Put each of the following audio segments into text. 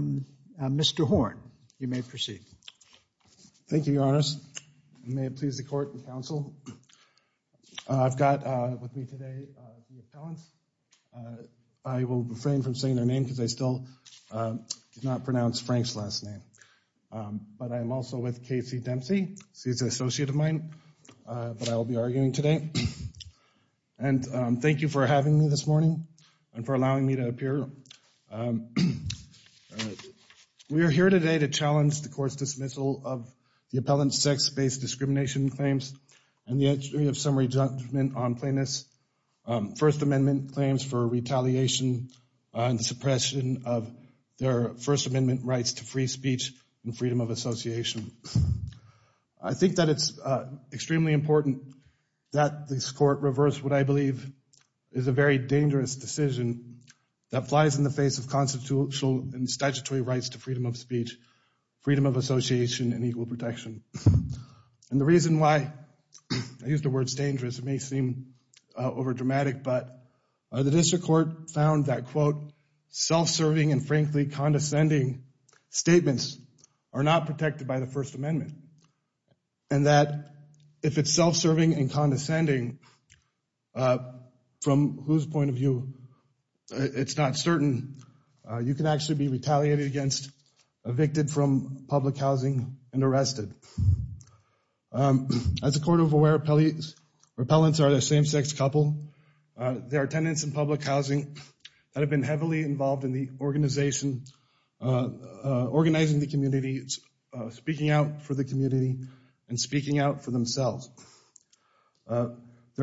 Mr. Horne, you may proceed. Thank you, Your Honors. May it please the Court and Council. I've got with me today the appellants. I will refrain from saying their name because I still did not pronounce Frank's last name. But I'm also with Casey Dempsey. He's an associate of mine, but I will be arguing today. And thank you for having me this evening. We are here today to challenge the Court's dismissal of the appellant's sex-based discrimination claims and the entry of summary judgment on plaintiff's First Amendment claims for retaliation and suppression of their First Amendment rights to free speech and freedom of association. I think that it's extremely important that this Court reverse what I believe is a very rights to freedom of speech, freedom of association, and equal protection. And the reason why I use the words dangerous, it may seem overdramatic, but the District Court found that quote, self-serving and frankly condescending statements are not protected by the First Amendment. And that if it's self-serving and condescending, from whose point of view it's not certain, you can actually be retaliated against, evicted from public housing, and arrested. As a Court of Aware, appellants are the same-sex couple. They are tenants in public housing that have been heavily involved in the organization, organizing the community, speaking out for the community, and speaking out for themselves. Their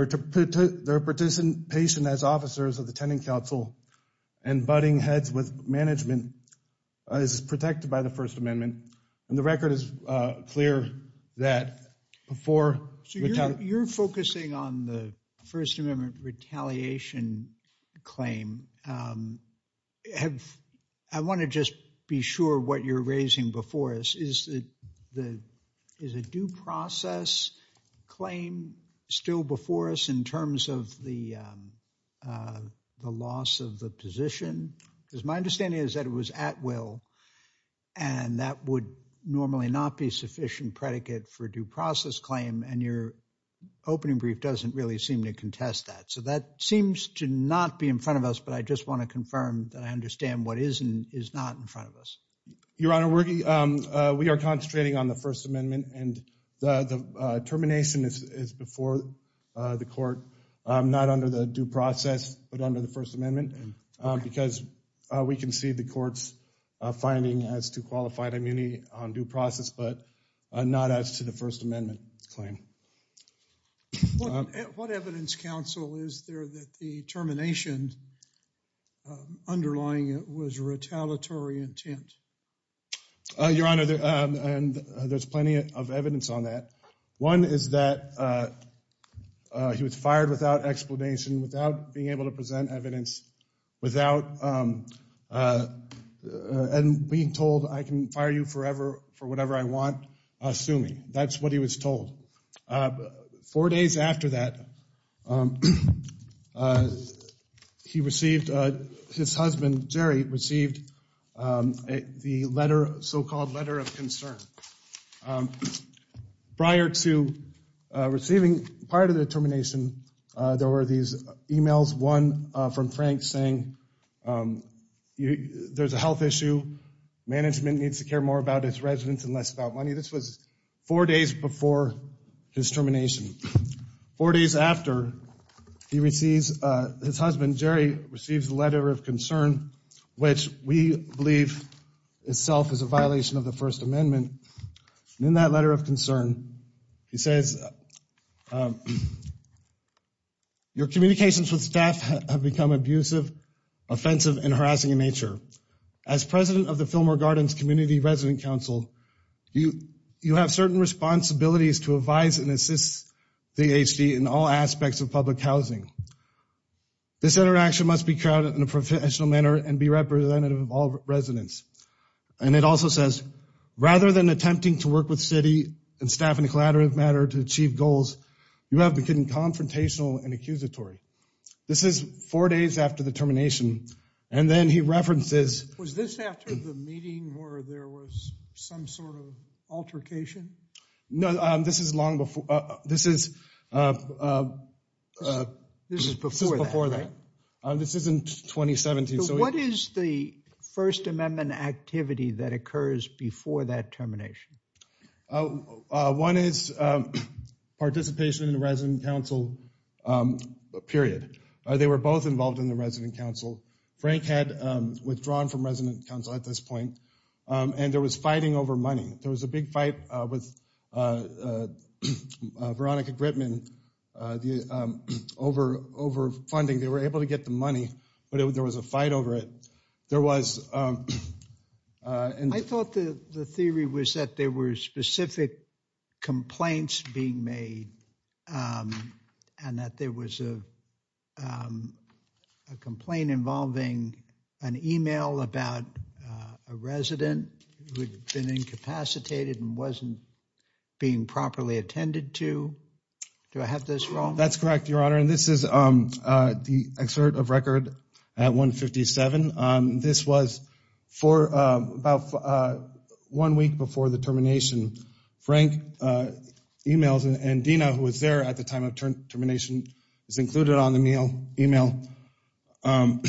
participation as officers of the Tenant Council and butting heads with management is protected by the First Amendment. And the record is clear that before- So you're focusing on the First Amendment retaliation claim. I want to just be sure what you're raising before us. Is the, is a due process claim still before us in terms of the loss of the position? Because my understanding is that it was at will, and that would normally not be sufficient predicate for a due process claim. And your opening brief doesn't really seem to contest that. So that seems to not be in front of us. But I just want to confirm that I understand what is and is not in front of us. Your Honor, we are concentrating on the First Amendment. And the under the due process, but under the First Amendment. Because we can see the court's finding as to qualified immunity on due process, but not as to the First Amendment claim. What evidence, counsel, is there that the termination underlying it was retaliatory intent? Your Honor, and there's plenty of evidence on that. One is that he was fired without explanation, without being able to present evidence, without being told I can fire you forever for whatever I want. Sue me. That's what he was told. Four days after that, he received, his husband Jerry, received the letter, so-called letter of concern. Prior to receiving, prior to the termination, there were these emails. One from Frank saying there's a health issue. Management needs to care more about its residents and less about money. This was four days before his termination. Four days after, he receives, his First Amendment. In that letter of concern, he says, your communications with staff have become abusive, offensive, and harassing in nature. As president of the Fillmore Gardens Community Resident Council, you have certain responsibilities to advise and assist the HD in all aspects of public housing. This interaction must be crowded in a professional manner and be representative of all residents. And it also says, rather than attempting to work with city and staff in a collaborative manner to achieve goals, you have become confrontational and accusatory. This is four days after the termination, and then he references- Was this after the meeting where there was some sort of altercation? No, this is long before. This is before that. This is in 2017. So what is the First Amendment activity that occurs before that termination? One is participation in the Resident Council period. They were both involved in the Resident Council. Frank had withdrawn from Resident Council at this point, and there was fighting over money. There was a big fight with Veronica Gritman over funding. They were able to get the money, but there was a fight over it. I thought the theory was that there were specific complaints being made, and that there was a complaint involving an email about a resident who had been incapacitated and wasn't being properly attended to. Do I have this wrong? That's correct, Your Honor, and this is the excerpt of Record at 157. This was for about one week before the termination. Frank emails, and Dina, who was there at the time of termination, is included on the email.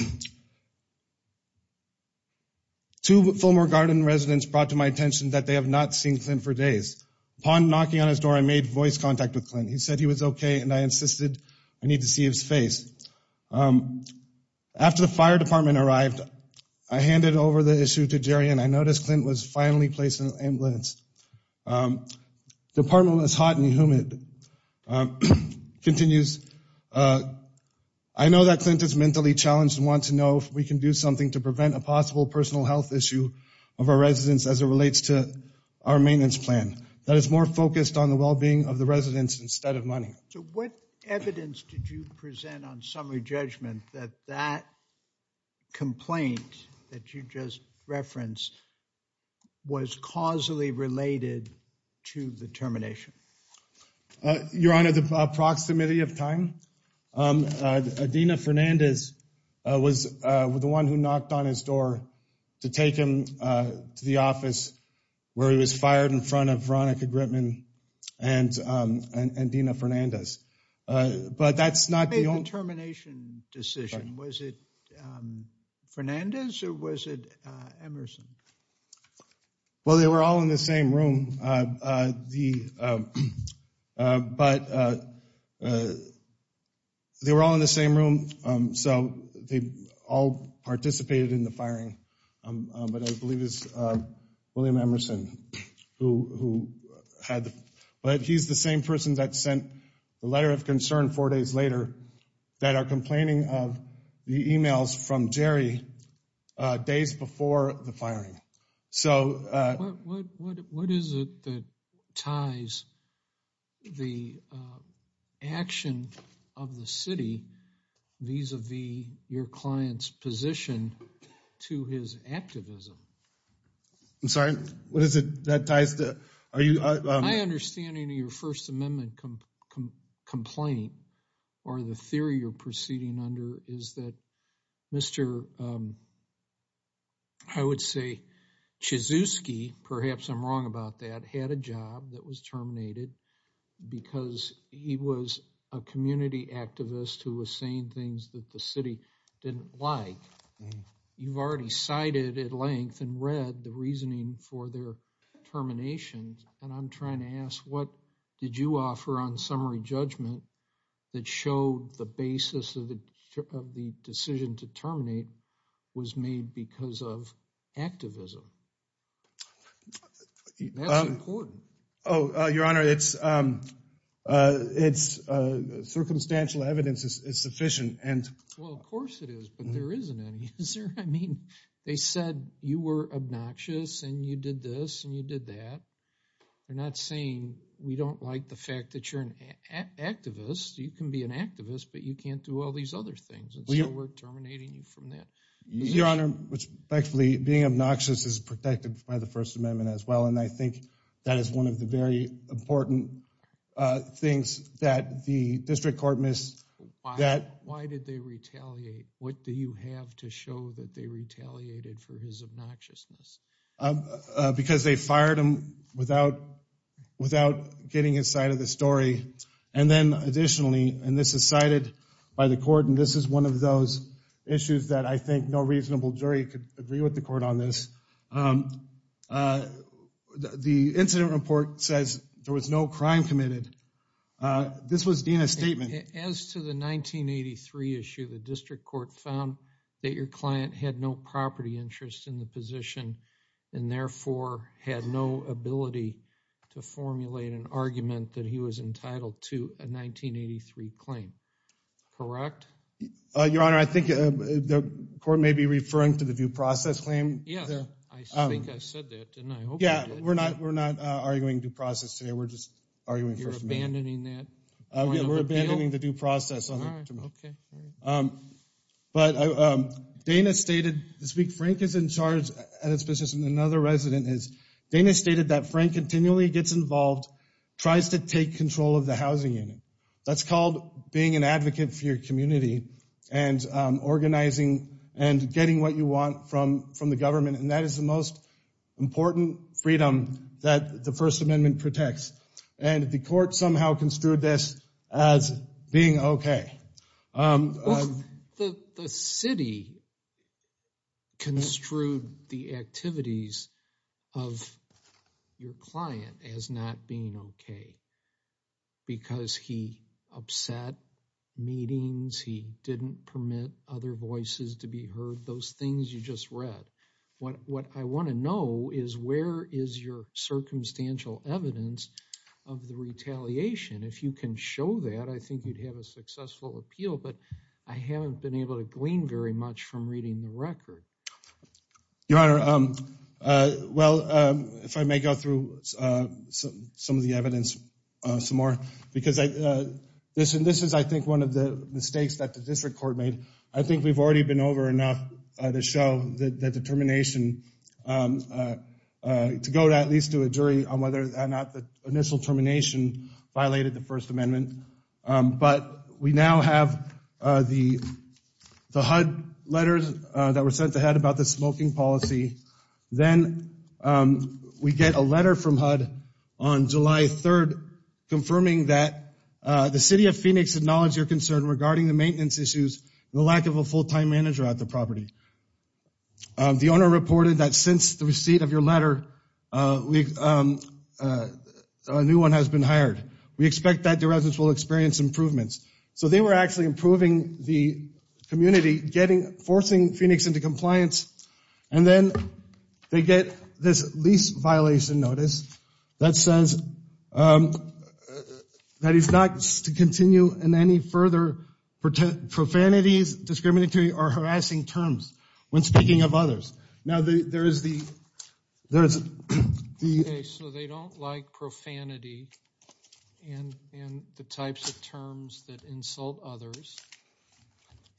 Two former Garden residents brought to my attention that they have not seen Clint for days. Upon knocking on his door, I made voice contact with Clint. He said he was okay, and I insisted I need to see his face. After the fire department arrived, I handed over the issue to Jerry, and I The apartment was hot and humid. He continues, I know that Clint is mentally challenged and wants to know if we can do something to prevent a possible personal health issue of our residents as it relates to our maintenance plan that is more focused on the well-being of the residents instead of money. So what evidence did you present on summary judgment that that complaint that you referenced was causally related to the termination? Your Honor, the proximity of time. Dina Fernandez was the one who knocked on his door to take him to the office where he was fired in front of Veronica Gritman and Dina Fernandez, but that's not the only... The termination decision, was it Fernandez or was it Emerson? Well, they were all in the same room, but they were all in the same room, so they all participated in the firing, but I believe it's William Emerson who had, but he's the same person that sent the letter of concern four days later that are complaining of the emails from Jerry days before the firing. So what is it that ties the action of the city vis-a-vis your client's position to his activism? I'm sorry, what is it that ties to... My understanding of your First Amendment complaint or the theory you're proceeding under is that Mr. I would say Chizuski, perhaps I'm wrong about that, had a job that was terminated because he was a community activist who was saying things that the city didn't like. You've cited at length and read the reasoning for their terminations, and I'm trying to ask what did you offer on summary judgment that showed the basis of the decision to terminate was made because of activism? That's important. Oh, Your Honor, it's... Circumstantial evidence is sufficient and... Well, of course it is, but there isn't any, is there? I mean, they said you were obnoxious, and you did this, and you did that. They're not saying we don't like the fact that you're an activist. You can be an activist, but you can't do all these other things, and so we're terminating you from that. Your Honor, which thankfully being obnoxious is protected by the First Amendment as well, and I think that is one of the very important things that the district court missed. Why did they retaliate? What do you have to show that they retaliated for his obnoxiousness? Because they fired him without getting his side of the story, and then additionally, and this is cited by the court, and this is one of those issues that I think no reasonable jury could agree with the court on this. The incident report says there was no crime committed. This was Dean's statement. As to the 1983 issue, the district court found that your client had no property interest in the position and therefore had no ability to formulate an argument that he was entitled to a 1983 claim, correct? Your Honor, I think the court may be referring to the due process claim. Yeah, I think I said that, didn't I? Yeah, we're not arguing due process today. We're arguing first amendment. You're abandoning that? Yeah, we're abandoning the due process. But Dana stated this week, Frank is in charge at his business and another resident is. Dana stated that Frank continually gets involved, tries to take control of the housing unit. That's called being an advocate for your community and organizing and getting what you want from the government, and that is the most important freedom that the first amendment protects, and the court somehow construed this as being okay. The city construed the activities of your client as not being okay because he upset meetings, he didn't permit other voices to be heard. What I want to know is where is your circumstantial evidence of the retaliation? If you can show that, I think you'd have a successful appeal, but I haven't been able to glean very much from reading the record. Your Honor, well, if I may go through some of the evidence some more because this is, I think, one of the mistakes that the district court made. I think we've already been over enough to show the determination to go at least to a jury on whether or not the initial termination violated the first amendment. But we now have the HUD letters that were sent ahead about the smoking policy. Then we get a letter from HUD on July 3rd confirming that the city of Phoenix acknowledged your concern regarding the maintenance issues lack of a full-time manager at the property. The owner reported that since the receipt of your letter, a new one has been hired. We expect that the residents will experience improvements. So they were actually improving the community, forcing Phoenix into compliance, and then they get this lease violation notice that says that it's not to continue in any further profanities, discriminatory, or harassing terms when speaking of others. Now, there is the, there is the... Okay, so they don't like profanity and the types of terms that insult others,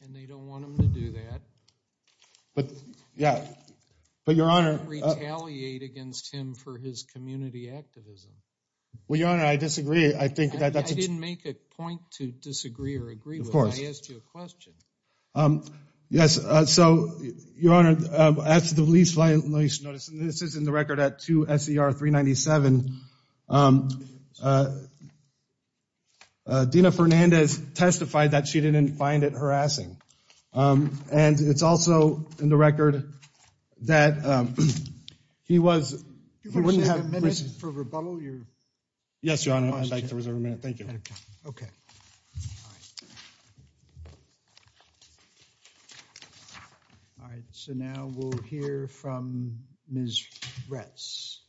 and they don't want him to do that. But, yeah, but your Honor... Retaliate against him for his community activism. Well, your Honor, I disagree. I think that... I didn't make a point to disagree or agree with. Of course. I asked you a question. Yes, so your Honor, as to the lease violation notice, and this is in the record at 2 S.E.R. 397, Dena Fernandez testified that she didn't find it harassing. And it's also in the record that he was... Do you have a minute for rebuttal? Yes, Your Honor, I'd like to reserve a minute. Thank you. Okay. All right, so now we'll hear from Ms. Retz.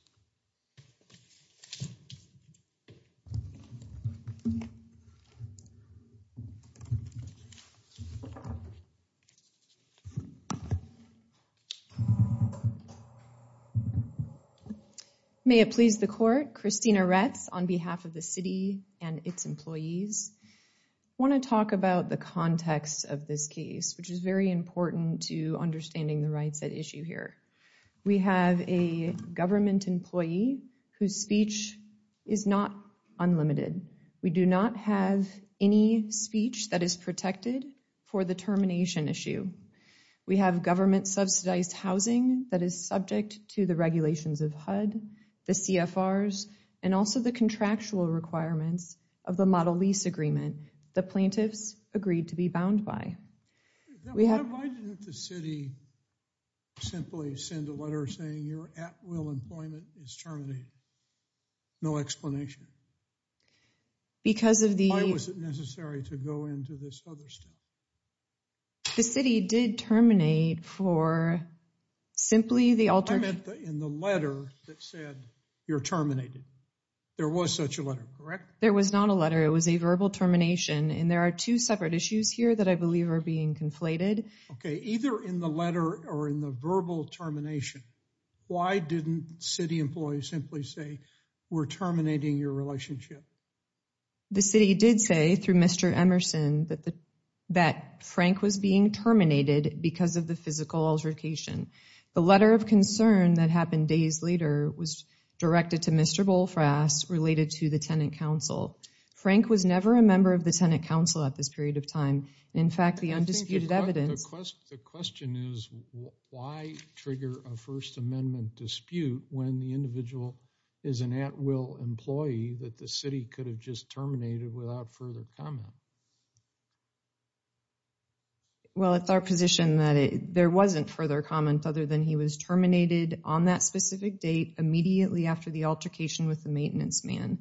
May it please the Court, Christina Retz, on behalf of the City and its employees. I want to talk about the context of this case, which is very important to understanding the rights at issue here. We have a government employee who has been harassed in the past, and we have a government employee whose speech is not unlimited. We do not have any speech that is protected for the termination issue. We have government subsidized housing that is subject to the regulations of HUD, the CFRs, and also the contractual requirements of the model lease agreement the plaintiffs agreed to be bound by. Why didn't the City simply send a letter saying you're at will employment is terminated? No explanation. Because of the... Why was it necessary to go into this other stuff? The City did terminate for simply the alter... I meant in the letter that said you're terminated. There was such a letter, correct? There was not a letter. It was a verbal termination, and there are two separate issues here that I believe are being conflated. Okay, either in the letter or in the verbal termination, why didn't City employees simply say we're terminating your relationship? The City did say through Mr. Emerson that Frank was being terminated because of the physical altercation. The letter of concern that happened days later was directed to Mr. Bolfrass related to the Tenant Council. Frank was never a member of the Tenant Council at this period of time. In fact, the undisputed evidence... The question is why trigger a First Amendment dispute when the individual is an at-will employee that the City could have just terminated without further comment? Well, it's our position that there wasn't further comment other than he was terminated on that specific date immediately after the altercation with the maintenance man,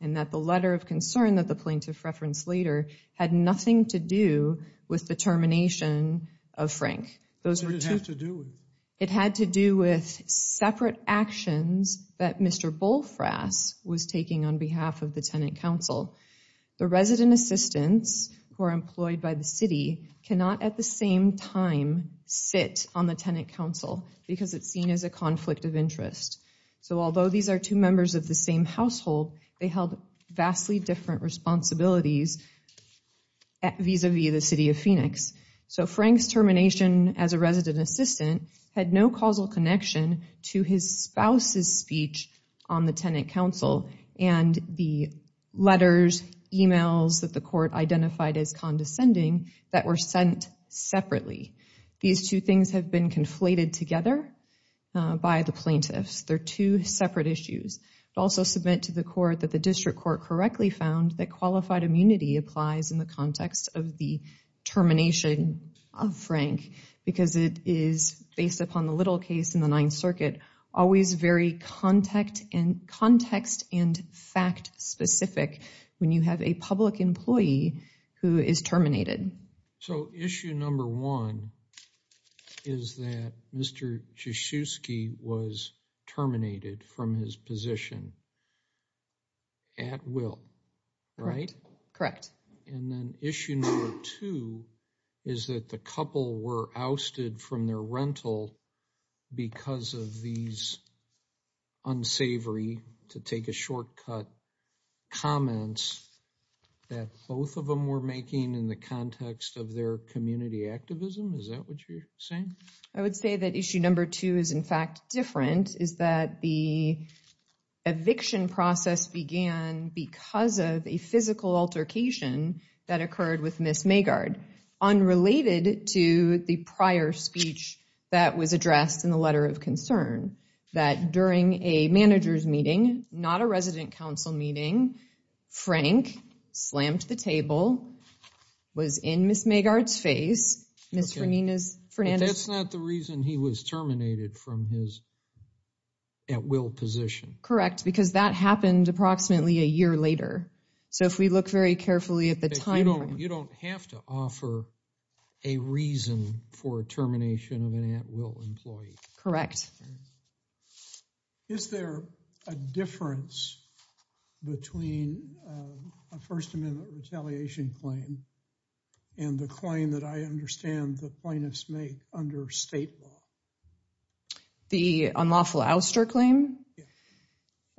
and that the letter of concern that the plaintiff referenced later had nothing to do with the termination of Frank. It had to do with separate actions that Mr. Bolfrass was taking on behalf of the Tenant Council. The resident assistants who are employed by the City cannot at the same time sit on the Tenant Council because it's seen as a conflict of interest. So although these are two households, they held vastly different responsibilities vis-a-vis the City of Phoenix. So Frank's termination as a resident assistant had no causal connection to his spouse's speech on the Tenant Council and the letters, emails that the court identified as condescending that were sent separately. These two things have been conflated together by the plaintiffs. They're two separate issues. It also submit to the court that the district court correctly found that qualified immunity applies in the context of the termination of Frank because it is based upon the little case in the Ninth Circuit always very context and fact specific when you have a public employee who is terminated. So issue number one is that Mr. Jasiewski was terminated from his position at will, right? Correct. And then issue number two is that the couple were ousted from their rental because of these unsavory, to take a shortcut, comments that both of them were making in the context of their saying. I would say that issue number two is in fact different, is that the eviction process began because of a physical altercation that occurred with Ms. Maggard, unrelated to the prior speech that was addressed in the letter of concern. That during a manager's meeting, not a resident reason he was terminated from his at will position. Correct. Because that happened approximately a year later. So if we look very carefully at the time, you don't have to offer a reason for termination of an at will employee. Correct. Is there a difference between a First Amendment retaliation claim and the claim that I understand the plaintiffs make under state law? The unlawful ouster claim?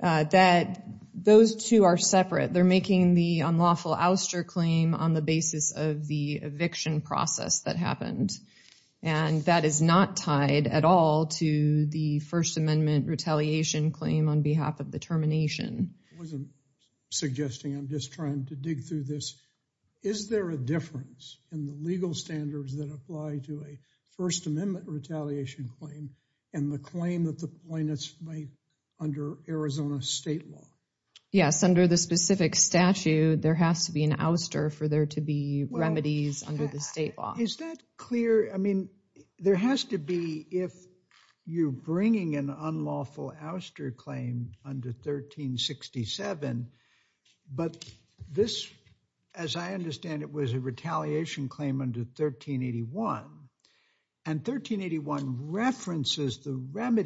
That those two are separate. They're making the unlawful ouster claim on the basis of the eviction process that happened. And that is not tied at all to the First Amendment retaliation claim on behalf of the termination. I wasn't suggesting, I'm just trying to dig through this. Is there a difference in the legal standards that apply to a First Amendment retaliation claim and the claim that the plaintiffs make under Arizona state law? Yes, under the specific statute, there has to be an ouster for there to be remedies under the state law. Is that clear? I mean, there has to be if you're bringing an unlawful ouster claim under 1367. But this, as I understand it, was a retaliation claim under 1381. And 1381 references the under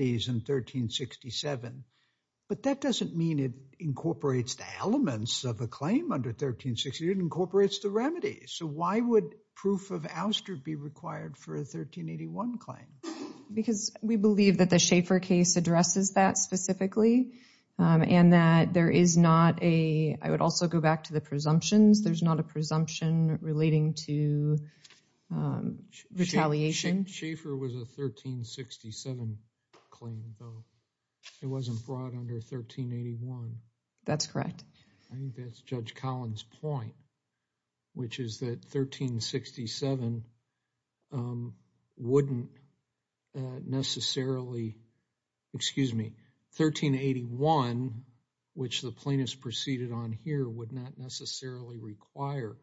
1368 incorporates the remedy. So why would proof of ouster be required for a 1381 claim? Because we believe that the Schaeffer case addresses that specifically. And that there is not a, I would also go back to the presumptions, there's not a presumption relating to retaliation. Schaeffer was a 1367 claim though. It wasn't brought under 1381. That's correct. I think that's Judge Collins' point, which is that 1367 wouldn't necessarily, excuse me, 1381, which the plaintiffs proceeded on here, would not necessarily require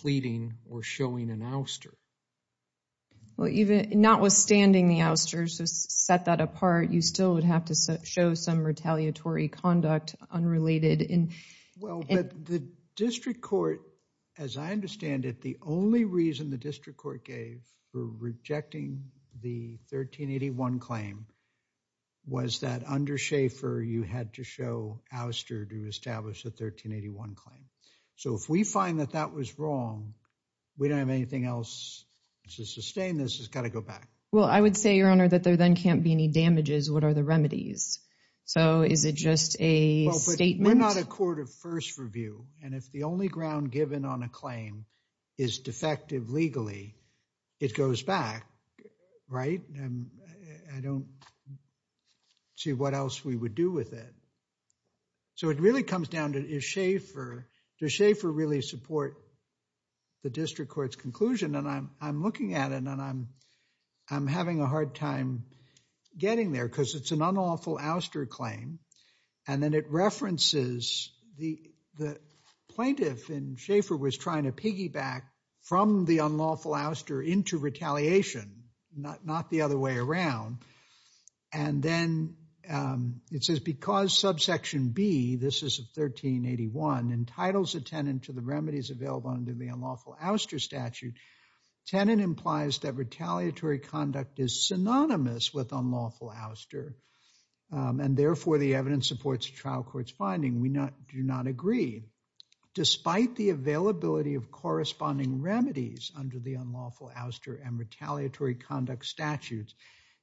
pleading or showing an ouster. Well, even notwithstanding the ousters to set that apart, you still would have to show some retaliatory conduct unrelated in. Well, but the district court, as I understand it, the only reason the district court gave for rejecting the 1381 claim was that under Schaeffer, you had to show ouster to establish a 1381 claim. So if we find that that was wrong, we don't have anything else to sustain this. It's got to go back. Well, I would say, Your Honor, that there then can't be any damages. What are the remedies? So is it just a statement? Well, but we're not a court of first review. And if the only ground given on a claim is defective legally, it goes back, right? I don't see what else we would do with it. So it really comes down to, does Schaeffer really support the district court's conclusion? And I'm looking at it, and I'm having a hard time getting there, because it's an unlawful ouster claim. And then it references the plaintiff, and Schaeffer was trying to piggyback from the unlawful ouster into retaliation, not the other way around. And then it says, because subsection B, this is 1381, entitles a tenant to the remedies available under the tenant implies that retaliatory conduct is synonymous with unlawful ouster. And therefore, the evidence supports the trial court's finding. We do not agree. Despite the availability of corresponding remedies under the unlawful ouster and retaliatory conduct statutes,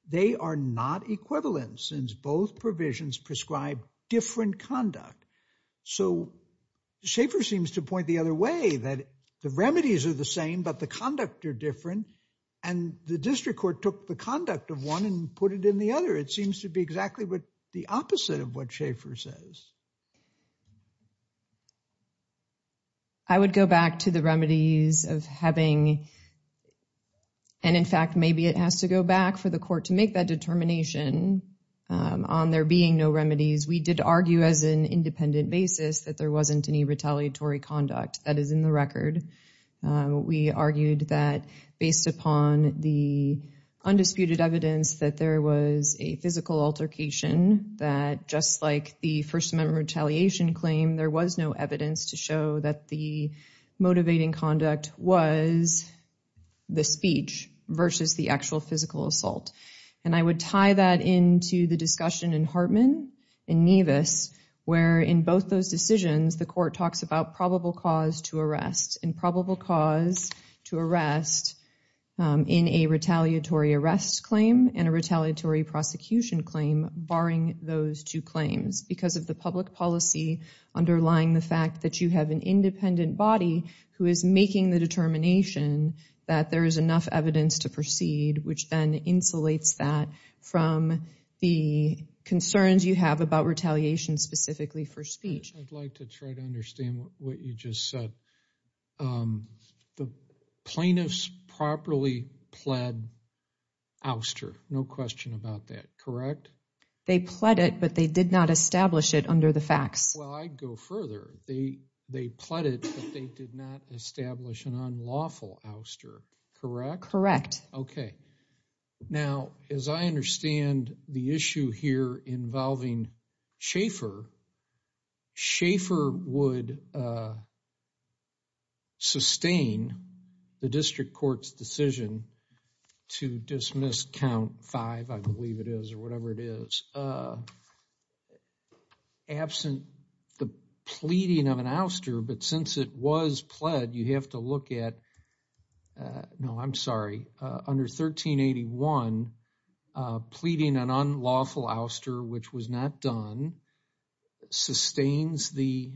they are not equivalent since both provisions prescribe different conduct. So Schaeffer seems to point the other way, that the remedies are the same, but the conduct are different. And the district court took the conduct of one and put it in the other. It seems to be exactly what the opposite of what Schaeffer says. I would go back to the remedies of having, and in fact, maybe it has to go back for the court to make that determination on there being no remedies. We did argue as an independent basis that there wasn't any retaliatory conduct that is in the record. We argued that based upon the undisputed evidence that there was a physical altercation, that just like the First Amendment retaliation claim, there was no evidence to show that the motivating conduct was the speech versus the actual physical assault. And I would tie that into the discussion in Hartman and Nevis, where in both those decisions, the court talks about probable cause to arrest and probable cause to arrest in a retaliatory arrest claim and a retaliatory prosecution claim, barring those two claims because of the public policy underlying the fact that you have an independent body who is making the determination that there is enough evidence to proceed, which then insulates that from the concerns you have about retaliation specifically for speech. I'd like to try to understand what you just said. The plaintiffs properly pled ouster. No question about that, correct? They pled it, but they did not establish it under the facts. Well, I'd go further. They pled it, but they did not establish an unlawful ouster, correct? Okay. Now, as I understand the issue here involving Schaefer, Schaefer would sustain the district court's decision to dismiss count five, I believe it is, or whatever it is, absent the pleading of an ouster. But since it was pled, you have to look at, no, I'm sorry, under 1381, pleading an unlawful ouster, which was not done, sustains the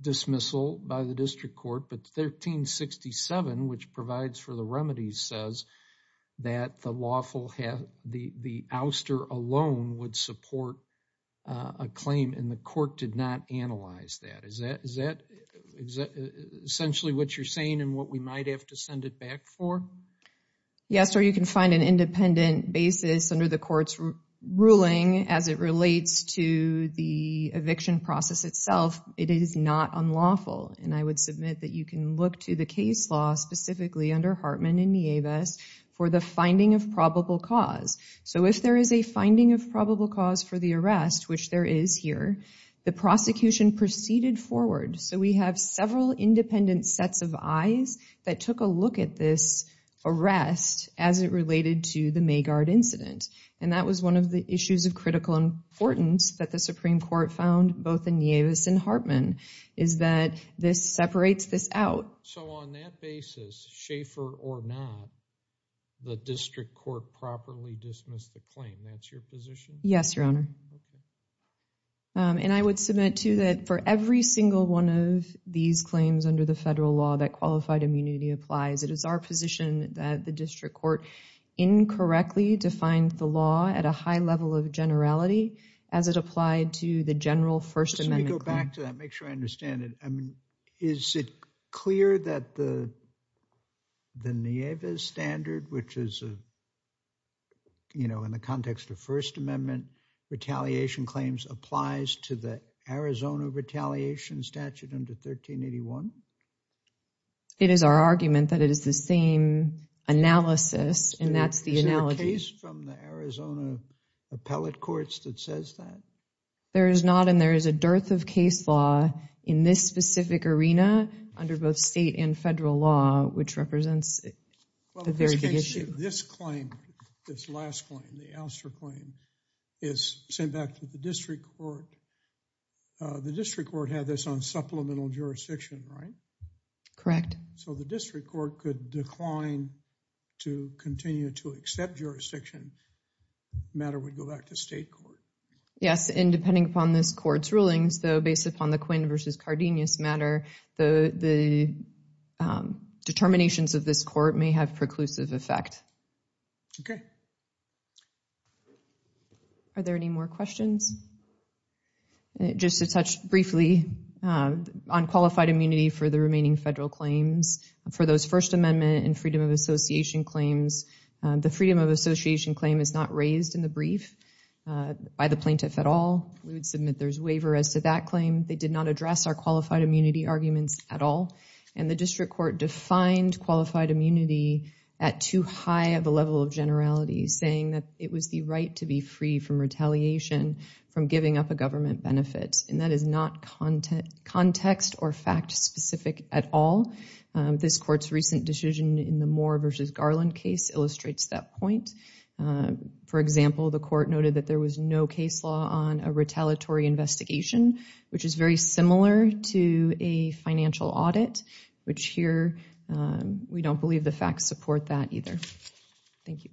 dismissal by the district court. But 1367, which provides for the remedies, says that the lawful, the ouster alone would support a claim, and the court did not analyze that. Is that essentially what you're saying and what we might have to send it back for? Yes, or you can find an independent basis under the court's ruling as it relates to the eviction process itself. It is not unlawful. And I would submit that you can look to the case law specifically under Hartman and Nieves for the finding of probable cause. So if there is a finding of So we have several independent sets of eyes that took a look at this arrest as it related to the Maygard incident. And that was one of the issues of critical importance that the Supreme Court found both in Nieves and Hartman, is that this separates this out. So on that basis, Schaefer or not, the district court properly dismissed the claim. That's your position? Yes, Your Honor. Okay. And I would submit to that for every single one of these claims under the federal law that qualified immunity applies, it is our position that the district court incorrectly defined the law at a high level of generality as it applied to the general First Amendment. Let me go back to that, make sure I understand it. I mean, is it clear that the standard which is, you know, in the context of First Amendment, retaliation claims applies to the Arizona retaliation statute under 1381? It is our argument that it is the same analysis. And that's the analogy from the Arizona appellate courts that says that there is not and there is a dearth of case law in this specific arena under both state and federal law, which represents a very good issue. This claim, this last claim, the Alster claim is sent back to the district court. The district court had this on supplemental jurisdiction, right? Correct. So the district court could decline to continue to accept jurisdiction, matter would go back to state court. Yes, and depending upon this court's cardinous matter, the determinations of this court may have preclusive effect. Okay. Are there any more questions? Just to touch briefly on qualified immunity for the remaining federal claims. For those First Amendment and freedom of association claims, the freedom of association claim is not raised in the brief by the plaintiff at all. We would submit there's waiver as to that claim. They did not address our qualified immunity arguments at all. And the district court defined qualified immunity at too high of a level of generality, saying that it was the right to be free from retaliation from giving up a government benefit. And that is not context or fact specific at all. This court's recent decision in the Moore versus Garland case illustrates that point. For example, the court noted that there was no case law on a retaliatory investigation, which is very similar to a financial audit, which here we don't believe the facts support that either. Thank you.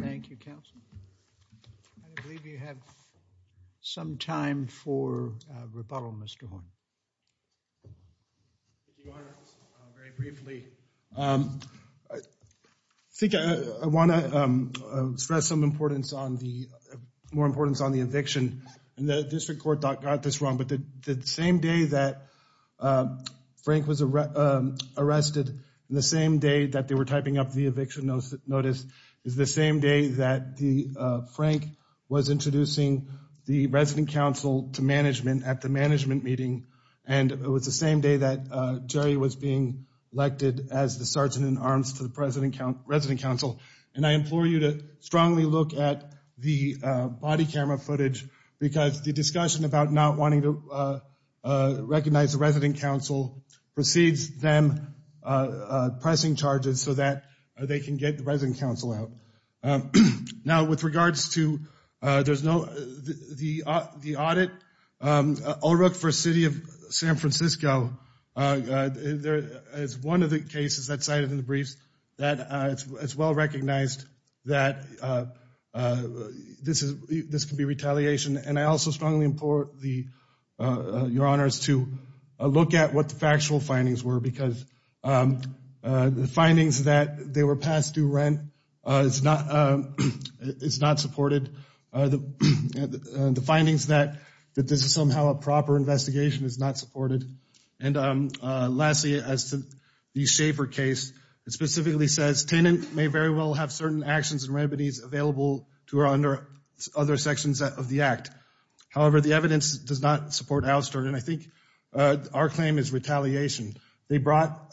Thank you, counsel. I believe you have some time for rebuttal, Mr. Horne. Thank you, Your Honor. Very briefly, I think I want to stress some importance on the, more importance on the eviction. And the district court got this wrong. But the same day that Frank was arrested, and the same day that they were typing up the eviction notice, is the same day that Frank was introducing the resident counsel to management at the and it was the same day that Jerry was being elected as the sergeant in arms to the resident counsel. And I implore you to strongly look at the body camera footage, because the discussion about not wanting to recognize the resident counsel precedes them pressing charges so that they can get the resident counsel out. Now with regards to, there's no, the audit, Ulrich for City of San Francisco, there is one of the cases that cited in the briefs that it's well recognized that this can be retaliation. And I also strongly implore Your Honors to look at what the factual findings were, because the findings that they were passed is not, it's not supported. The findings that this is somehow a proper investigation is not supported. And lastly, as to the Shafer case, it specifically says, tenant may very well have certain actions and remedies available to her under other sections of the act. However, the evidence does not support Alsterd. And I think our claim is retaliation. They brought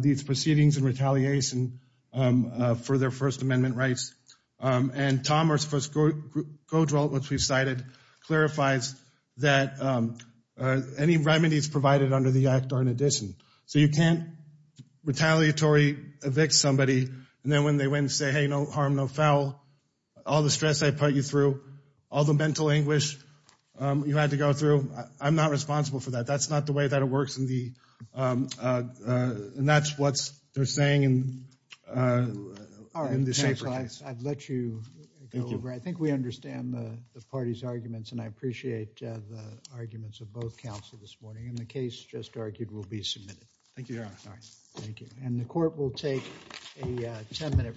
these proceedings in retaliation for their First Amendment rights. And Tom, our first co-development we've cited, clarifies that any remedies provided under the act are an addition. So you can't retaliatory evict somebody. And then when they went and say, hey, no harm, no foul, all the stress I put you through, all the mental anguish you had to go through, I'm not responsible for that. That's not the way that it works in the, and that's what they're saying in the Shafer case. I'd let you go over. I think we understand the party's arguments and I appreciate the arguments of both counsel this morning. And the case just argued will be submitted. Thank you, Your Honor. All right. Thank you. And the court will take a 10 minute recess.